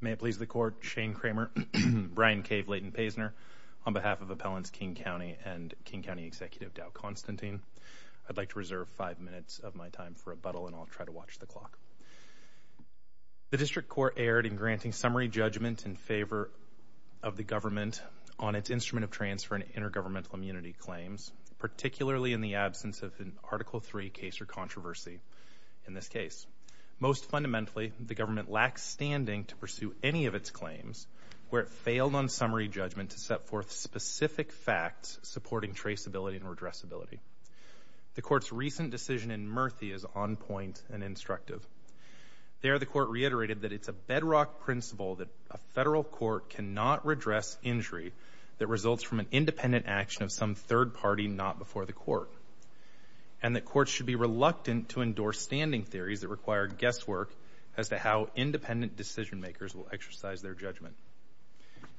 May it please the Court, Shane Kramer, Brian K. Blayden-Paysner, on behalf of Appellants King County and King County Executive Dow Constantine, I'd like to reserve five minutes of my time for rebuttal and I'll try to watch the clock. The District Court erred in granting summary judgment in favor of the government on its instrument of transfer and intergovernmental immunity claims, particularly in the absence of an Article III case or controversy in this case. Most fundamentally, the government lacks standing to pursue any of its claims where it failed on summary judgment to set forth specific facts supporting traceability and redressability. The Court's recent decision in Murphy is on point and instructive. There the Court reiterated that it's a bedrock principle that a federal court cannot redress injury that results from an independent action of some third party not before the Court. And the Court should be reluctant to endorse standing theories that require guesswork as to how independent decision-makers will exercise their judgment.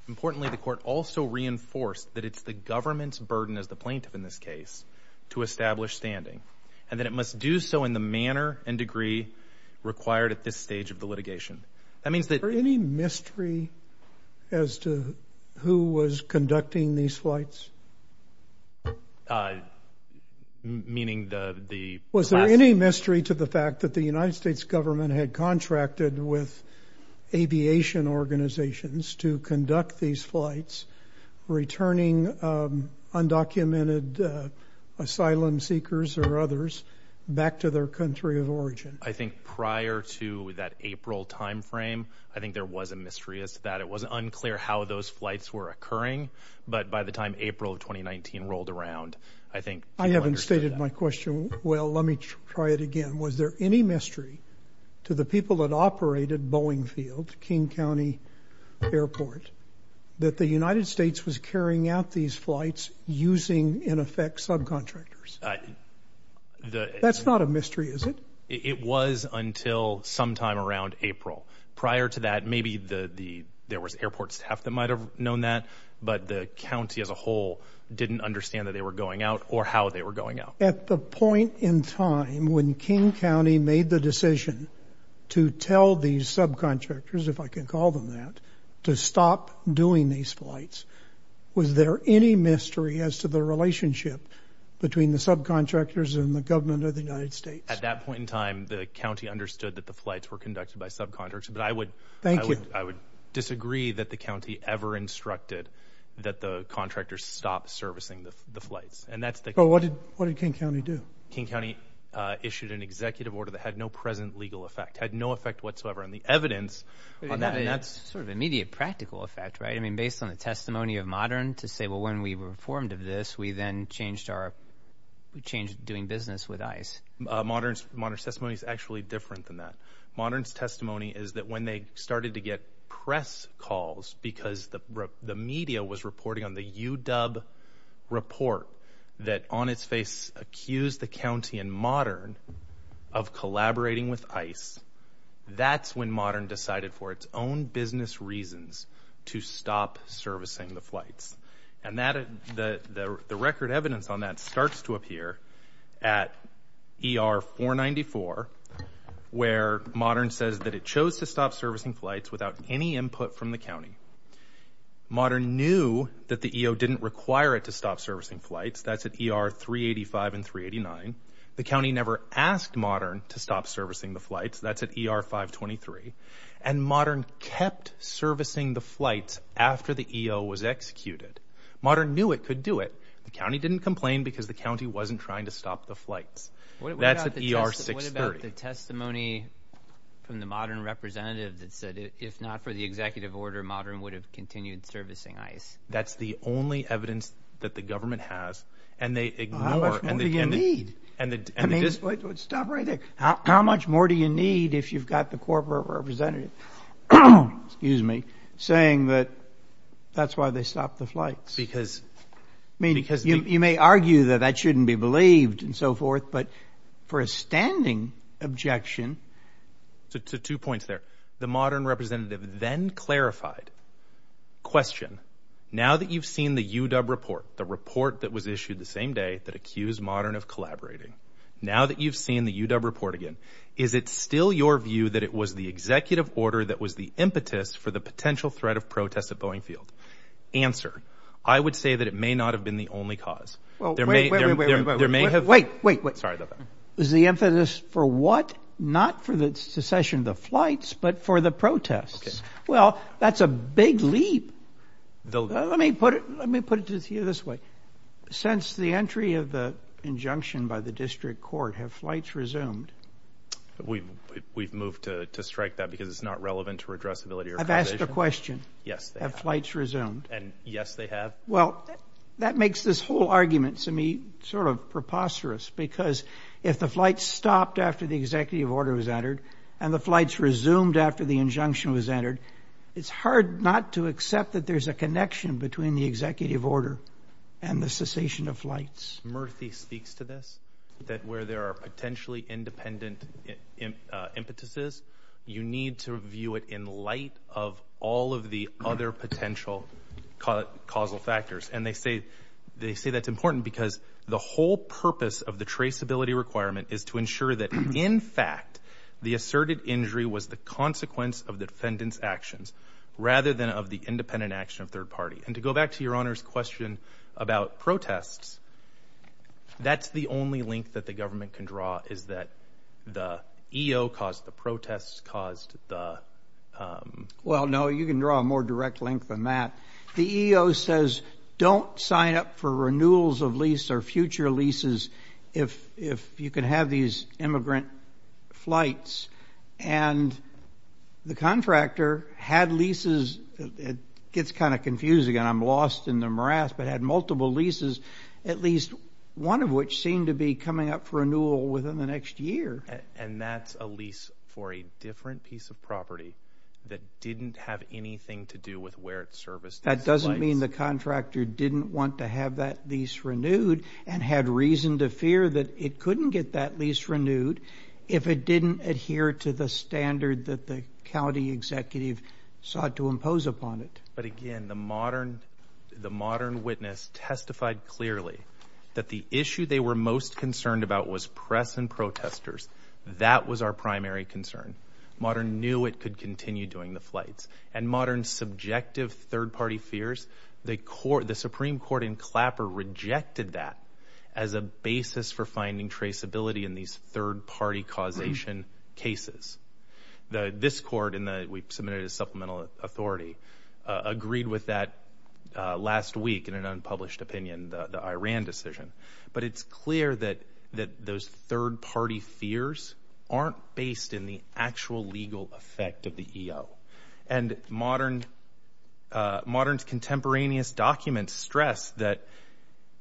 Importantly, the Court also reinforced that it's the government's burden as the plaintiff in this case to establish standing and that it must do so in the manner and degree required at this stage of the litigation. Is there any mystery as to who was conducting these flights? Uh, meaning the... Was there any mystery to the fact that the United States government had contracted with aviation organizations to conduct these flights, returning undocumented asylum seekers or others back to their country of origin? I think prior to that April time frame, I think there was a mystery as to that. It wasn't unclear how those flights were occurring, but by the time April of 2019 rolled around, I think people understood that. I haven't stated my question well. Let me try it again. Was there any mystery to the people that operated Boeing Field, King County Airport, that the United States was carrying out these flights using, in effect, subcontractors? That's not a mystery, is it? It was until sometime around April. Prior to that, maybe there was airport staff that might have known that, but the county as a whole didn't understand that they were going out or how they were going out. At the point in time when King County made the decision to tell these subcontractors, if I can call them that, to stop doing these flights, was there any mystery as to the relationship between the subcontractors and the government of the United States? At that point in time, the county understood that the flights were conducted by subcontractors, but I would disagree that the county ever instructed that the contractors stop servicing the flights. What did King County do? King County issued an executive order that had no present legal effect, had no effect whatsoever on the evidence on that. That's sort of immediate practical effect, right? I mean, based on the testimony of Modern to say, well, when we were informed of this, we then changed doing business with ICE. Modern's testimony is actually different than that. Modern's testimony is that when they started to get press calls because the media was reporting on the UW report that on its face accused the county and Modern of collaborating with ICE, that's when Modern decided for its own business reasons to stop servicing the flights. And the record evidence on that starts to appear at ER 494, where Modern says that it chose to stop servicing flights without any input from the county. Modern knew that the EO didn't require it to stop servicing flights. That's at ER 385 and 389. The county never asked Modern to stop servicing the flights. That's at ER 523. And Modern kept servicing the flights after the EO was executed. Modern knew it could do it. The county didn't complain because the county wasn't trying to stop the flights. That's at ER 630. What about the testimony from the Modern representative that said, if not for the executive order, Modern would have continued servicing ICE? That's the only evidence that the government has. And they ignore... How much more do you need? And the... I mean... Stop right there. How much more do you need if you've got the corporate representative saying that that's why they stopped the flights? Because... I mean, you may argue that that shouldn't be believed and so forth, but for a standing objection... So two points there. The Modern representative then clarified, question, now that you've seen the UW report, the report that was issued the same day that accused Modern of collaborating, now that you've seen the UW report again, is it still your view that it was the executive order that was the impetus for the potential threat of protest at Boeing Field? Answer. I would say that it may not have been the only cause. There may... There may have... Wait, wait, wait. Sorry about that. Is the impetus for what? Not for the secession of the flights, but for the protests. Well, that's a big leap. Let me put it to you this way. Since the entry of the injunction by the district court, have flights resumed? We've moved to strike that because it's not relevant to redressability or causation. I've asked a question. Yes, they have. Have flights resumed? And yes, they have. Well, that makes this whole argument to me sort of preposterous because if the flights stopped after the executive order was entered and the flights resumed after the injunction was entered, it's hard not to accept that there's a connection between the executive order and the cessation of flights. Murthy speaks to this, that where there are potentially independent impetuses, you need to view it in light of all of the other potential causal factors. And they say that's important because the whole purpose of the traceability requirement is to ensure that, in fact, the asserted injury was the consequence of the defendant's actions rather than of the independent action of third party. And to go back to your Honor's question about protests, that's the only link that the government can draw is that the EO caused the protests, caused the... Well, no, you can draw a more direct link than that. The EO says, don't sign up for renewals of lease or future leases if you can have these immigrant flights. And the contractor had leases, it gets kind of confusing and I'm lost in the morass, but had multiple leases, at least one of which seemed to be coming up for renewal within the next year. And that's a lease for a different piece of property that didn't have anything to do with where it serviced these flights. That doesn't mean the contractor didn't want to have that lease renewed and had reason to fear that it couldn't get that lease renewed if it didn't adhere to the standard that the county executive sought to impose upon it. But again, the modern witness testified clearly that the issue they were most concerned about was press and protesters. That was our primary concern. Modern knew it could continue doing the flights. And modern subjective third party fears, the Supreme Court in Clapper rejected that as a basis for finding traceability in these third party causation cases. This court, and we submitted a supplemental authority, agreed with that last week in an unpublished opinion, the Iran decision. But it's clear that those third party fears aren't based in the actual legal effect of the EO. And modern's contemporaneous documents stress that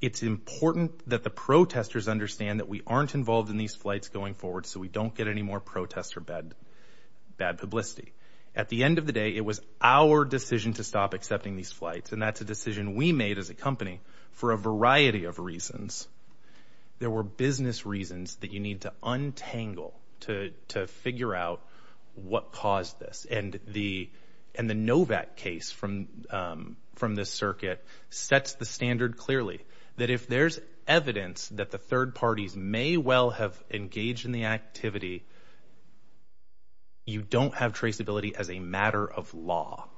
it's important that the protesters understand that we aren't involved in these flights going forward so we don't get any more protests or bad publicity. At the end of the day, it was our decision to stop accepting these flights. And that's a decision we made as a company for a variety of reasons. There were business reasons that you need to untangle to figure out what caused this. And the Novak case from this circuit sets the standard clearly that if there's evidence that the third parties may well have engaged in the activity, you don't have traceability as a matter of law.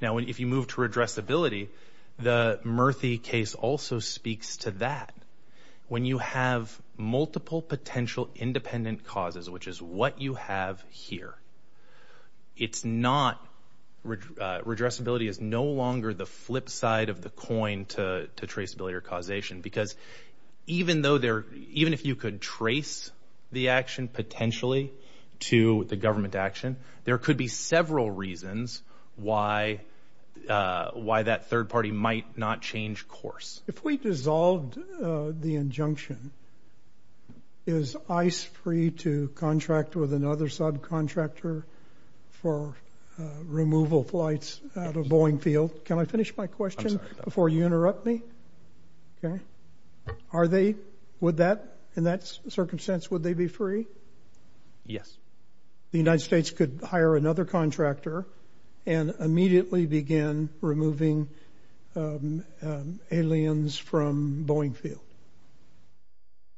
Now if you move to redressability, the Murthy case also speaks to that. When you have multiple potential independent causes, which is what you have here, redressability is no longer the flip side of the coin to traceability or causation because even if you could trace the action potentially to the government action, there could be several reasons why that third party might not change course. If we dissolved the injunction, is ICE free to contract with another subcontractor for removal flights out of Boeing Field? Can I finish my question before you interrupt me? Are they? Would that, in that circumstance, would they be free? Yes. The United States could hire another contractor and immediately begin removing aliens from Boeing Field?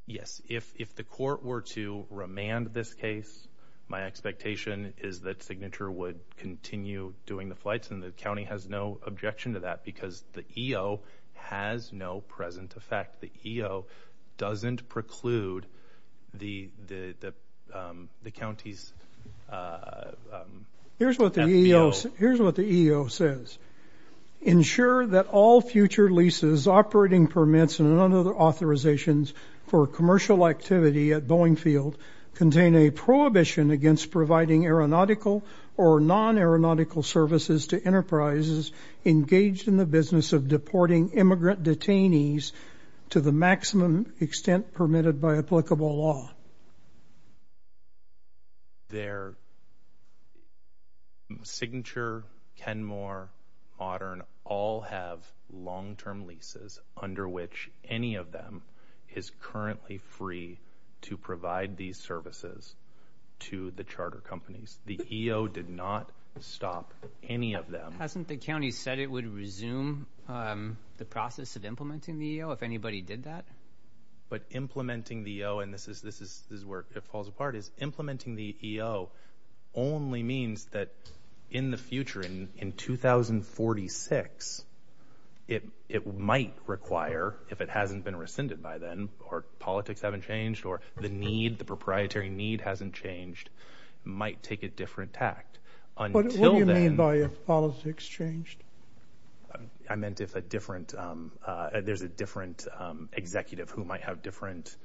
Yes. If the court were to remand this case, my expectation is that Signature would continue doing the flights and the county has no objection to that because the EO has no present effect. The EO doesn't preclude the county's... Here's what the EO says, ensure that all future leases, operating permits, and other authorizations for commercial activity at Boeing Field contain a prohibition against providing aeronautical or non-aeronautical services to enterprises engaged in the business of deporting immigrant detainees to the maximum extent permitted by applicable law. Their Signature, Kenmore, Audern, all have long-term leases under which any of them is currently free to provide these services to the charter companies. The EO did not stop any of them. Hasn't the county said it would resume the process of implementing the EO if anybody did that? But implementing the EO, and this is where it falls apart, is implementing the EO only means that in the future, in 2046, it might require, if it hasn't been rescinded by then, or politics haven't changed, or the need, the proprietary need hasn't changed, might take a different tact. Until then... I meant if a different, there's a different executive who might have different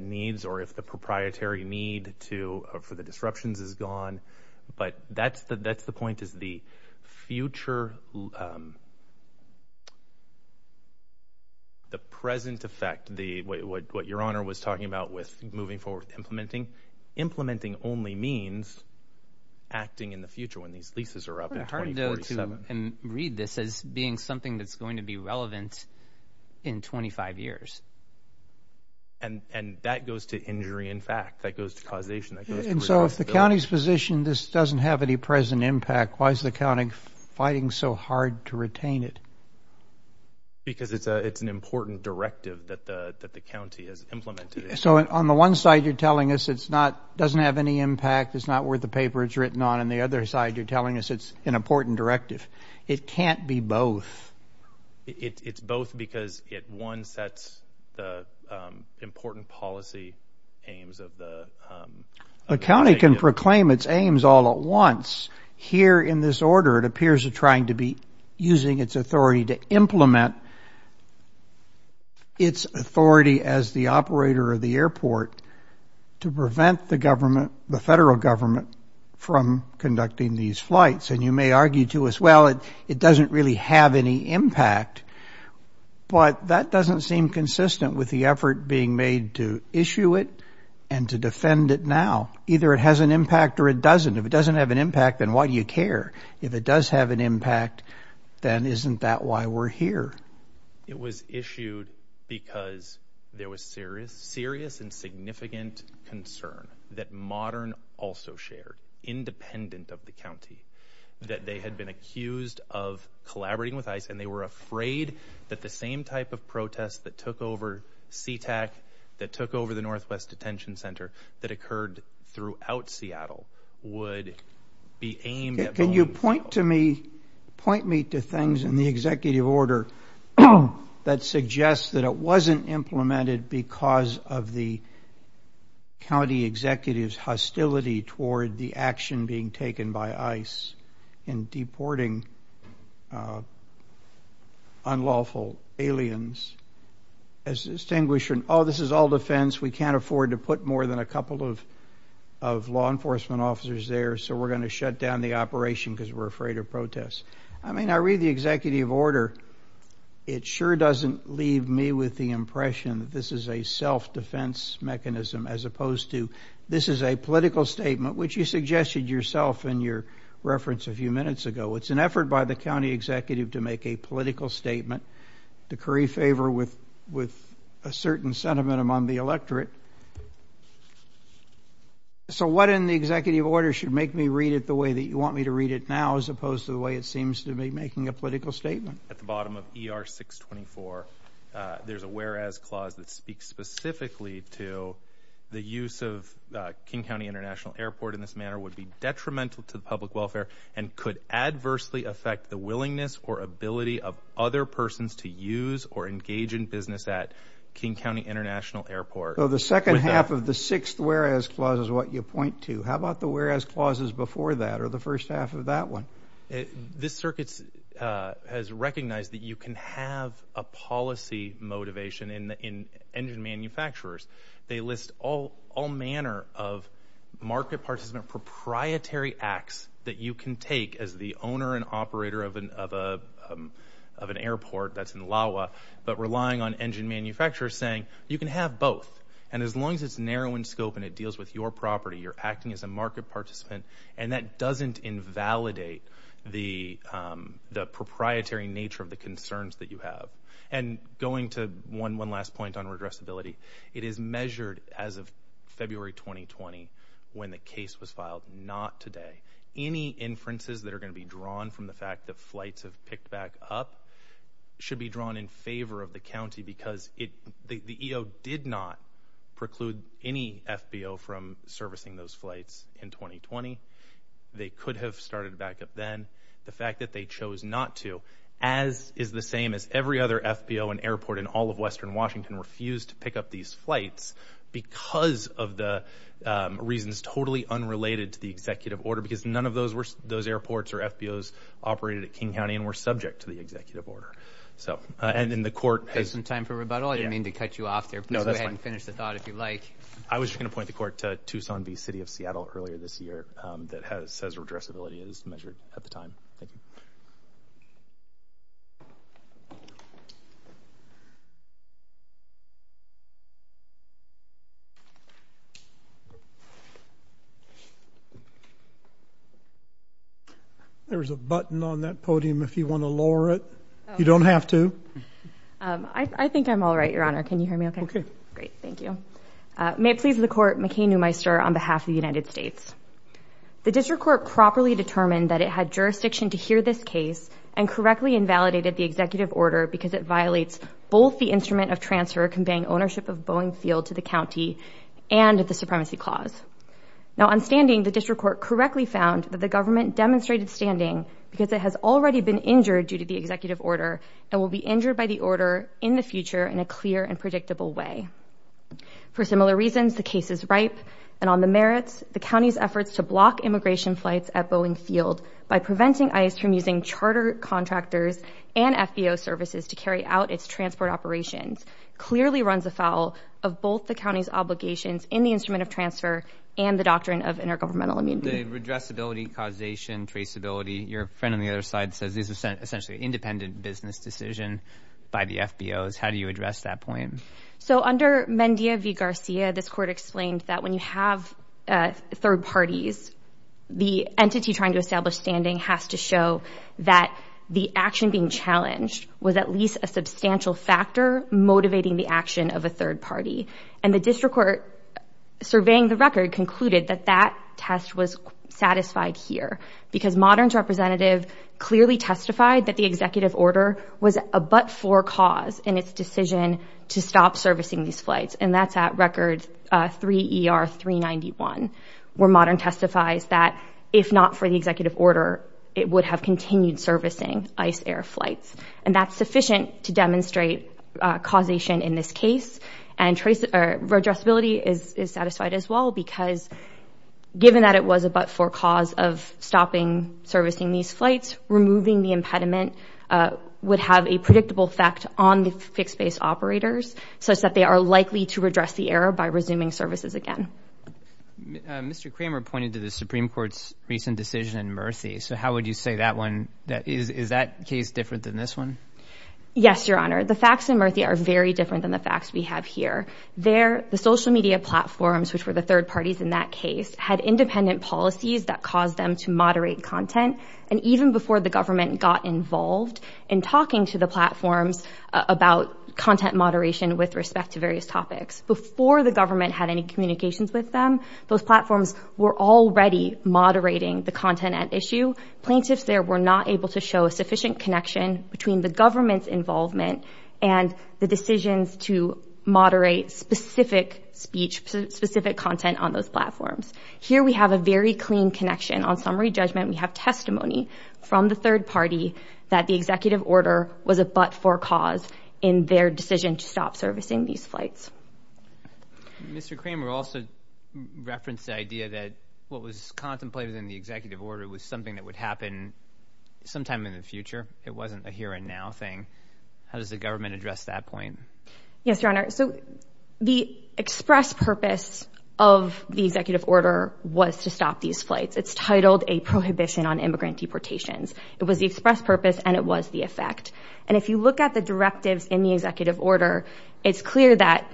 needs, or if the proprietary need for the disruptions is gone. But that's the point, is the future, the present effect, what Your Honor was talking about with moving forward with implementing, implementing only means acting in the future when these leases are up in 2047. It's pretty hard to read this as being something that's going to be relevant in 25 years. And that goes to injury in fact, that goes to causation, that goes to responsibility. And so if the county's position, this doesn't have any present impact, why is the county fighting so hard to retain it? Because it's an important directive that the county has implemented. So on the one side you're telling us it's not, doesn't have any impact, it's not worth the paper it's written on, and the other side you're telling us it's an important directive. It can't be both. It's both because it, one, sets the important policy aims of the executive. The county can proclaim its aims all at once. Here in this order it appears to be trying to be using its authority to implement its authority as the operator of the airport to prevent the government, the federal government, from conducting these flights. And you may argue to us, well, it doesn't really have any impact. But that doesn't seem consistent with the effort being made to issue it and to defend it now. Either it has an impact or it doesn't. If it doesn't have an impact, then why do you care? If it does have an impact, then isn't that why we're here? It was issued because there was serious and significant concern that Modern also shared, independent of the county, that they had been accused of collaborating with ICE and they were afraid that the same type of protest that took over Sea-Tac, that took over the Northwest Detention Center, that occurred throughout Seattle, would be aimed at... Can you point me to things in the executive order that suggests that it wasn't implemented because of the county executive's hostility toward the action being taken by ICE in deporting unlawful aliens as distinguishing, oh, this is all defense, we can't afford to put more than a couple of law enforcement officers there. So we're going to shut down the operation because we're afraid of protests. I mean, I read the executive order. It sure doesn't leave me with the impression that this is a self-defense mechanism as opposed to this is a political statement, which you suggested yourself in your reference a few minutes ago. It's an effort by the county executive to make a political statement, decree favor with a certain sentiment among the electorate. So what in the executive order should make me read it the way that you want me to read it now as opposed to the way it seems to be making a political statement? At the bottom of ER 624, there's a whereas clause that speaks specifically to the use of King County International Airport in this manner would be detrimental to the public welfare and could adversely affect the willingness or ability of other persons to use or engage in business at King County International Airport. So the second half of the sixth whereas clause is what you point to. How about the whereas clauses before that or the first half of that one? This circuit has recognized that you can have a policy motivation in engine manufacturers. They list all manner of market participant proprietary acts that you can take as the owner and operator of an airport that's in LAWA but relying on engine manufacturers saying you can have both and as long as it's narrow in scope and it deals with your property, you're acting as a market participant and that doesn't invalidate the proprietary nature of the concerns that you have. And going to one last point on regressibility, it is measured as of February 2020 when the case was filed, not today. Any inferences that are going to be drawn from the fact that flights have picked back up should be drawn in favor of the county because the EO did not preclude any FBO from servicing those flights in 2020. They could have started back up then. The fact that they chose not to as is the same as every other FBO and airport in all of Western Washington refused to pick up these flights because of the reasons totally unrelated to the executive order because none of those airports or FBOs operated at King County and were subject to the executive order. So and then the court has some time for rebuttal. I didn't mean to cut you off there. No, that's fine. Finish the thought if you like. I was going to point the court to Tucson v. City of Seattle earlier this year that has says regressibility is measured at the time. Thank you. There is a button on that podium if you want to lower it. You don't have to. I think I'm all right, Your Honor. Can you hear me okay? Great. Thank you. May it please the court, McCain Newmeister on behalf of the United States. The district court properly determined that it had jurisdiction to hear this case and correctly invalidated the executive order because it violates both the instrument of transfer conveying ownership of Boeing Field to the county and the supremacy clause. Now on standing, the district court correctly found that the government demonstrated standing because it has already been injured due to the executive order and will be injured by the order in the future in a clear and predictable way. For similar reasons, the case is ripe and on the merits, the county's efforts to block immigration flights at Boeing Field by preventing ICE from using charter contractors and FBO services to carry out its transport operations clearly runs afoul of both the county's obligations in the instrument of transfer and the doctrine of intergovernmental immunity. The regressibility, causation, traceability, your friend on the other side says this is essentially an independent business decision by the FBOs. How do you address that point? So under Mendia v. Garcia, this court explained that when you have third parties, the entity trying to establish standing has to show that the action being challenged was at least a substantial factor motivating the action of a third party. And the district court surveying the record concluded that that test was satisfied here because Modern's representative clearly testified that the executive order was a but-for cause in its decision to stop servicing these flights. And that's at record 3 ER 391, where Modern testifies that if not for the executive order, it would have continued servicing ICE air flights. And that's sufficient to demonstrate causation in this case. And traceability is satisfied as well because given that it was a but-for cause of stopping servicing these flights, removing the impediment would have a predictable effect on the fixed-base operators, such that they are likely to redress the error by resuming services again. Mr. Kramer pointed to the Supreme Court's recent decision in Murthy. So how would you say that one, is that case different than this one? Yes, Your Honor. The facts in Murthy are very different than the facts we have here. The social media platforms, which were the third parties in that case, had independent policies that caused them to moderate content. And even before the government got involved in talking to the platforms about content moderation with respect to various topics, before the government had any communications with them, those platforms were already moderating the content at issue. Plaintiffs there were not able to show a sufficient connection between the government's involvement and the decisions to moderate specific speech, specific content on those platforms. Here we have a very clean connection. On summary judgment, we have testimony from the third party that the executive order was a but-for cause in their decision to stop servicing these flights. Mr. Kramer also referenced the idea that what was contemplated in the executive order was something that would happen sometime in the future. It wasn't a here and now thing. How does the government address that point? Yes, Your Honor. The express purpose of the executive order was to stop these flights. It's titled a prohibition on immigrant deportations. It was the express purpose and it was the effect. And if you look at the directives in the executive order, it's clear that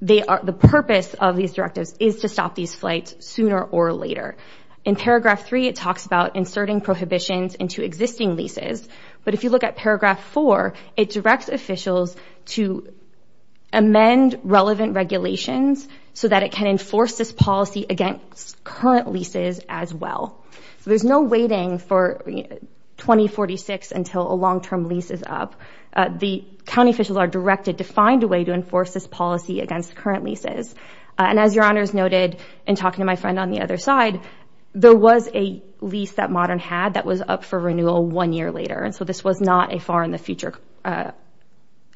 the purpose of these directives is to stop these flights sooner or later. In paragraph three, it talks about inserting prohibitions into existing leases. But if you look at paragraph four, it directs officials to amend relevant regulations so that it can enforce this policy against current leases as well. There's no waiting for 2046 until a long-term lease is up. The county officials are directed to find a way to enforce this policy against current leases. And as Your Honor has noted in talking to my friend on the other side, there was a lease that Modern had that was up for renewal one year later. And so this was not a far in the future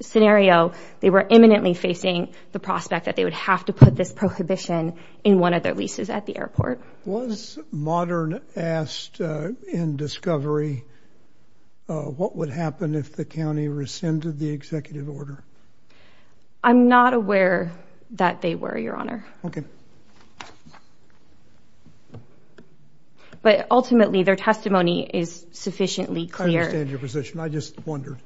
scenario. They were imminently facing the prospect that they would have to put this prohibition in one of their leases at the airport. Was Modern asked in discovery what would happen if the county rescinded the executive order? I'm not aware that they were, Your Honor. Okay. But ultimately, their testimony is sufficiently clear. I understand your position. I just wondered.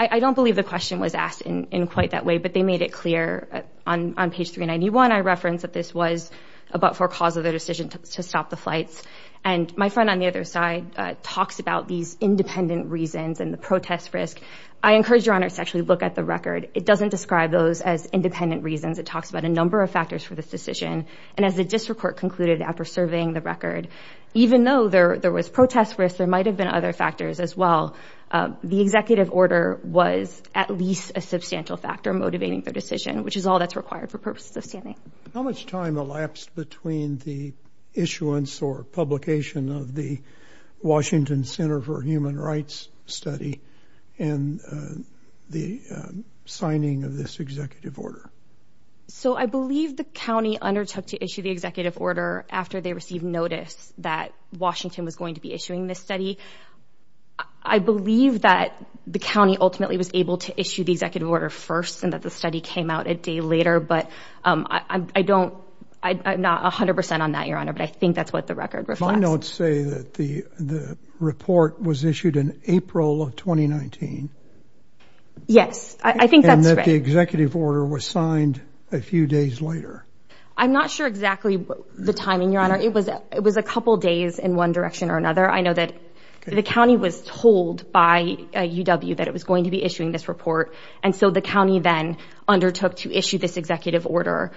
I don't believe the question was asked in quite that way, but they made it clear on page 391. I referenced that this was about for cause of the decision to stop the flights. And my friend on the other side talks about these independent reasons and the protest risk. I encourage Your Honor to actually look at the record. It doesn't describe those as independent reasons. It talks about a number of factors for this decision. And as the district court concluded after surveying the record, even though there was protest risk, there might have been other factors as well. The executive order was at least a substantial factor motivating their decision, which is all that's required for purposes of standing. How much time elapsed between the issuance or publication of the Washington Center for Human Rights study and the signing of this executive order? So I believe the county undertook to issue the executive order after they received notice that Washington was going to be issuing this study. I believe that the county ultimately was able to issue the executive order first and that the study came out a day later. But I don't, I'm not 100 percent on that, Your Honor, but I think that's what the record reflects. My notes say that the report was issued in April of 2019. Yes. And that the executive order was signed a few days later. I'm not sure exactly the timing, Your Honor. It was a couple days in one direction or another. I know that the county was told by UW that it was going to be issuing this report. And so the county then undertook to issue this executive order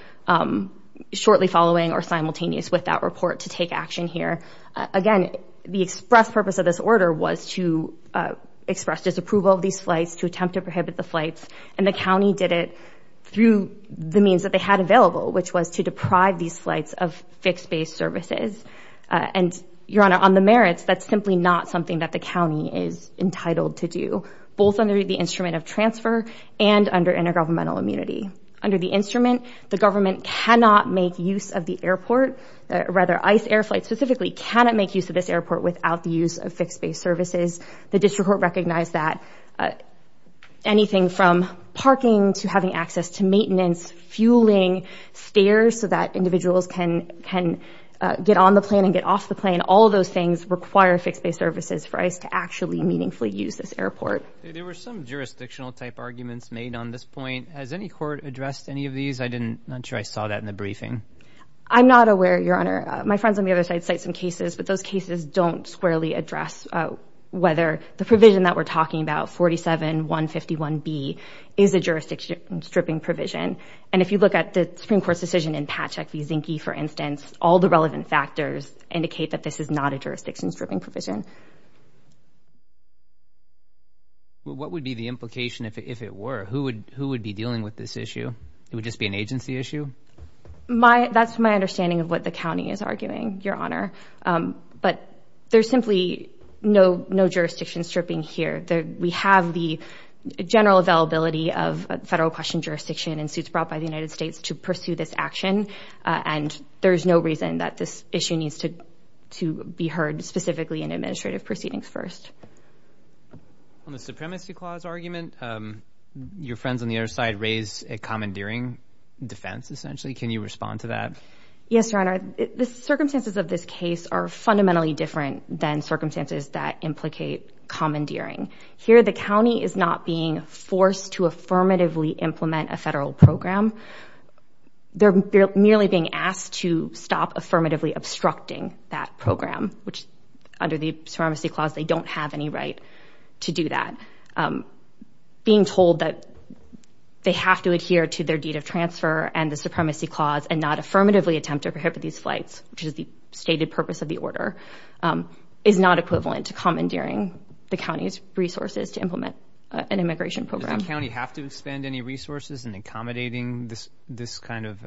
shortly following or simultaneous with that report to take action here. Again, the express purpose of this order was to express disapproval of these flights, to prohibit the flights. And the county did it through the means that they had available, which was to deprive these flights of fixed base services. And Your Honor, on the merits, that's simply not something that the county is entitled to do, both under the instrument of transfer and under intergovernmental immunity. Under the instrument, the government cannot make use of the airport, rather ICE Air Flight specifically cannot make use of this airport without the use of fixed base services. The district court recognized that. Anything from parking to having access to maintenance, fueling stairs so that individuals can get on the plane and get off the plane. All of those things require fixed base services for ICE to actually meaningfully use this airport. There were some jurisdictional type arguments made on this point. Has any court addressed any of these? I'm not sure I saw that in the briefing. I'm not aware, Your Honor. My friends on the other side cite some cases, but those cases don't squarely address whether the provision that we're talking about, 47-151B, is a jurisdiction stripping provision. And if you look at the Supreme Court's decision in Patchak v. Zinke, for instance, all the relevant factors indicate that this is not a jurisdiction stripping provision. What would be the implication if it were? Who would be dealing with this issue? It would just be an agency issue? That's my understanding of what the county is arguing, Your Honor. But there's simply no jurisdiction stripping here. We have the general availability of federal question jurisdiction and suits brought by the United States to pursue this action. And there's no reason that this issue needs to be heard specifically in administrative proceedings first. On the supremacy clause argument, your friends on the other side raise a commandeering defense essentially. Can you respond to that? Yes, Your Honor. The circumstances of this case are fundamentally different than circumstances that implicate commandeering. Here, the county is not being forced to affirmatively implement a federal program. They're merely being asked to stop affirmatively obstructing that program, which under the supremacy clause, they don't have any right to do that. So, being told that they have to adhere to their deed of transfer and the supremacy clause and not affirmatively attempt to prohibit these flights, which is the stated purpose of the order, is not equivalent to commandeering the county's resources to implement an immigration program. Does the county have to expend any resources in accommodating this kind of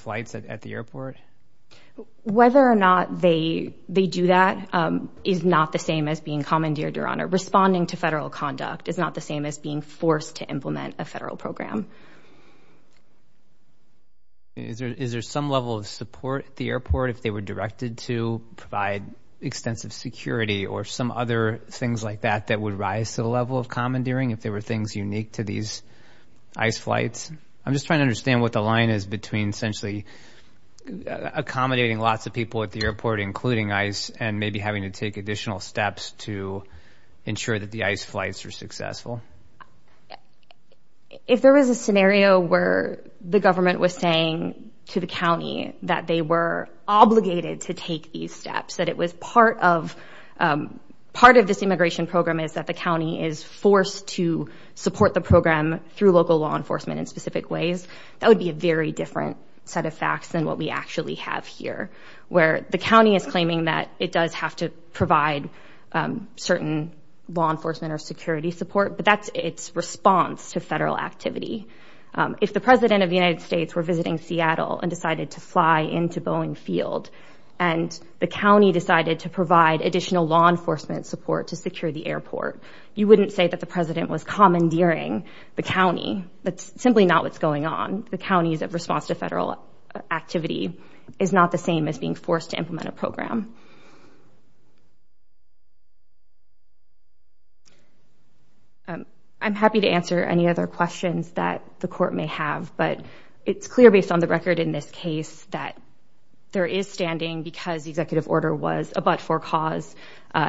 flights at the airport? Whether or not they do that is not the same as being commandeered, Your Honor. Responding to federal conduct is not the same as being forced to implement a federal program. Is there some level of support at the airport if they were directed to provide extensive security or some other things like that that would rise to the level of commandeering if there were things unique to these ICE flights? I'm just trying to understand what the line is between essentially accommodating lots of people at the airport, including ICE, and maybe having to take additional steps to ensure that the ICE flights are successful. If there was a scenario where the government was saying to the county that they were obligated to take these steps, that it was part of this immigration program is that the county is forced to support the program through local law enforcement in specific ways, that would be a very different set of facts than what we actually have here, where the county is claiming that it does have to provide certain law enforcement or security support, but that's its response to federal activity. If the President of the United States were visiting Seattle and decided to fly into Boeing Field and the county decided to provide additional law enforcement support to secure the airport, you wouldn't say that the President was commandeering the county. That's simply not what's going on. The county's response to federal activity is not the same as being forced to implement a program. I'm happy to answer any other questions that the court may have, but it's clear based on the record in this case that there is standing because the executive order was a but for cause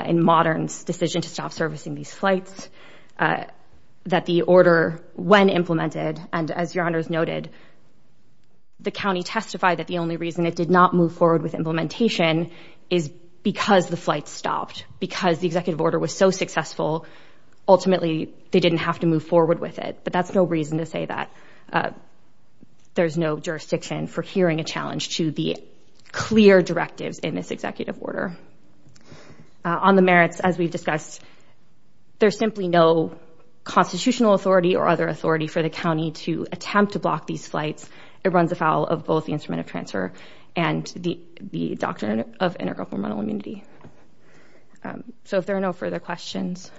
in Modern's decision to stop servicing these flights, that the order, when implemented, and as your honors noted, the county testified that the only reason it did not move forward with implementation is because the flight stopped. Because the executive order was so successful, ultimately they didn't have to move forward with it, but that's no reason to say that there's no jurisdiction for hearing a challenge to the clear directives in this executive order. On the merits, as we've discussed, there's simply no constitutional authority or other authority for the county to attempt to block these flights. It runs afoul of both the instrument of transfer and the doctrine of integral hormonal immunity. So if there are no further questions,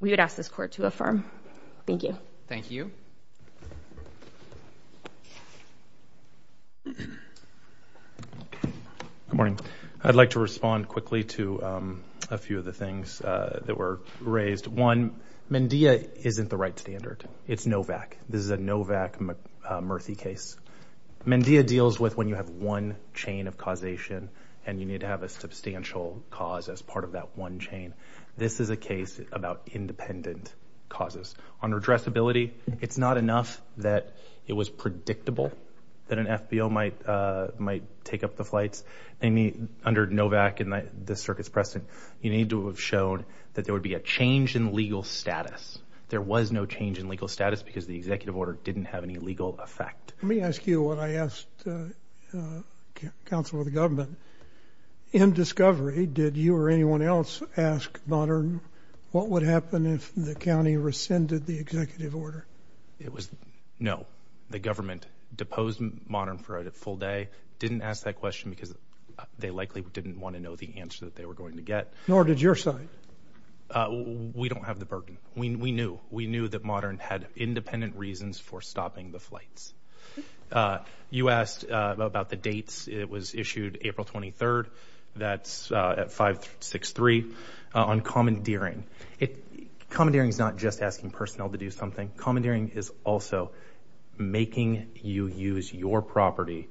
we would ask this court to affirm. Thank you. Thank you. Good morning. I'd like to respond quickly to a few of the things that were raised. One, Mendea isn't the right standard. It's Novak. This is a Novak-Murthy case. Mendea deals with when you have one chain of causation and you need to have a substantial cause as part of that one chain. This is a case about independent causes. On addressability, it's not enough that it was predictable that an FBO might take up the flights. Under Novak and the circuit's precedent, you need to have shown that there would be a change in legal status. There was no change in legal status because the executive order didn't have any legal effect. Let me ask you what I asked the counsel of the government. In discovery, did you or anyone else ask Modern what would happen if the county rescinded the executive order? It was no. The government deposed Modern for a full day. Didn't ask that question because they likely didn't want to know the answer that they were going to get. Nor did your side. We don't have the burden. We knew. We knew that Modern had independent reasons for stopping the flights. You asked about the dates. It was issued April 23rd. That's at 563. On commandeering, commandeering is not just asking personnel to do something. Commandeering is also making you use your property,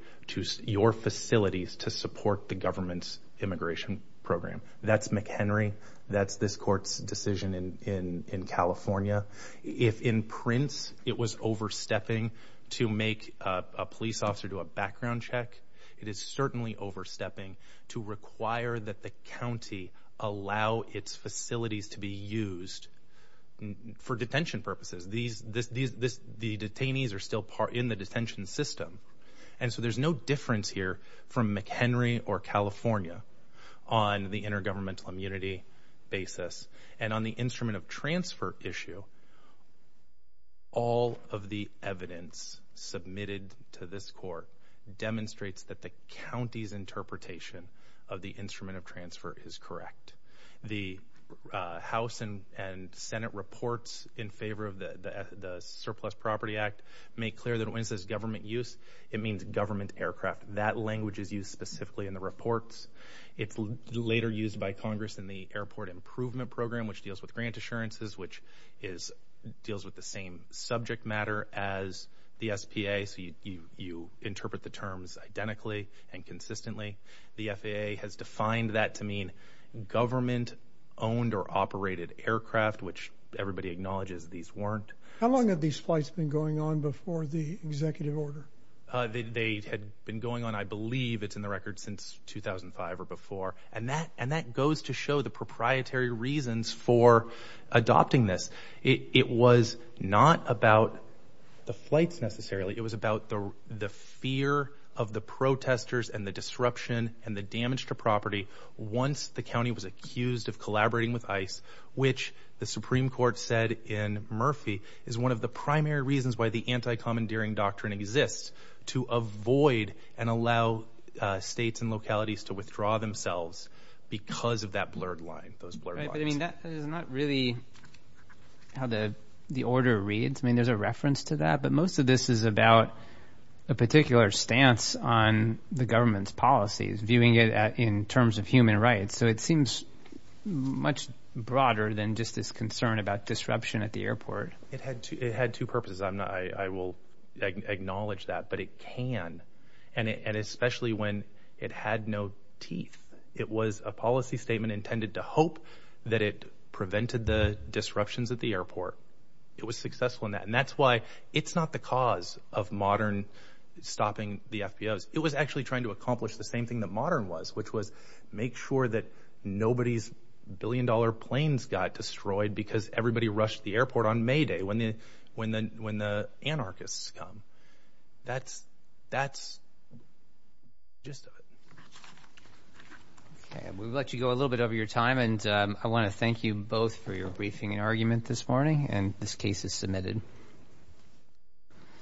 your facilities to support the government's immigration program. That's McHenry. That's this court's decision in California. If in Prince it was overstepping to make a police officer do a background check, it is certainly overstepping to require that the county allow its facilities to be used for detention purposes. The detainees are still in the detention system. There's no difference here from McHenry or California on the intergovernmental immunity basis. On the instrument of transfer issue, all of the evidence submitted to this court demonstrates that the county's interpretation of the instrument of transfer is correct. The House and Senate reports in favor of the Surplus Property Act make clear that when it says government use, it means government aircraft. That language is used specifically in the reports. It's later used by Congress in the Airport Improvement Program, which deals with grant assurances, which deals with the same subject matter as the SPA. You interpret the terms identically and consistently. The FAA has defined that to mean government-owned or operated aircraft, which everybody acknowledges these weren't. How long have these flights been going on before the executive order? They had been going on, I believe, it's in the record, since 2005 or before. That goes to show the proprietary reasons for adopting this. It was not about the flights necessarily. It was about the fear of the protesters and the disruption and the damage to property once the county was accused of collaborating with ICE, which the Supreme Court said in Murphy is one of the primary reasons why the anti-commandeering doctrine exists, to avoid and allow states and localities to withdraw themselves because of that blurred line, those blurred lines. Right, but I mean, that is not really how the order reads. I mean, there's a reference to that, but most of this is about a particular stance on the government's policies, viewing it in terms of human rights, so it seems much broader than just this concern about disruption at the airport. It had two purposes. I will acknowledge that, but it can, and especially when it had no teeth. It was a policy statement intended to hope that it prevented the disruptions at the airport. It was successful in that, and that's why it's not the cause of Modern stopping the FBOs. It was actually trying to accomplish the same thing that Modern was, which was make sure that nobody's billion-dollar planes got destroyed because everybody rushed the airport on May Day when the anarchists come. That's the gist of it. Okay, we'll let you go a little bit over your time, and I want to thank you both for your briefing and argument this morning, and this case is submitted.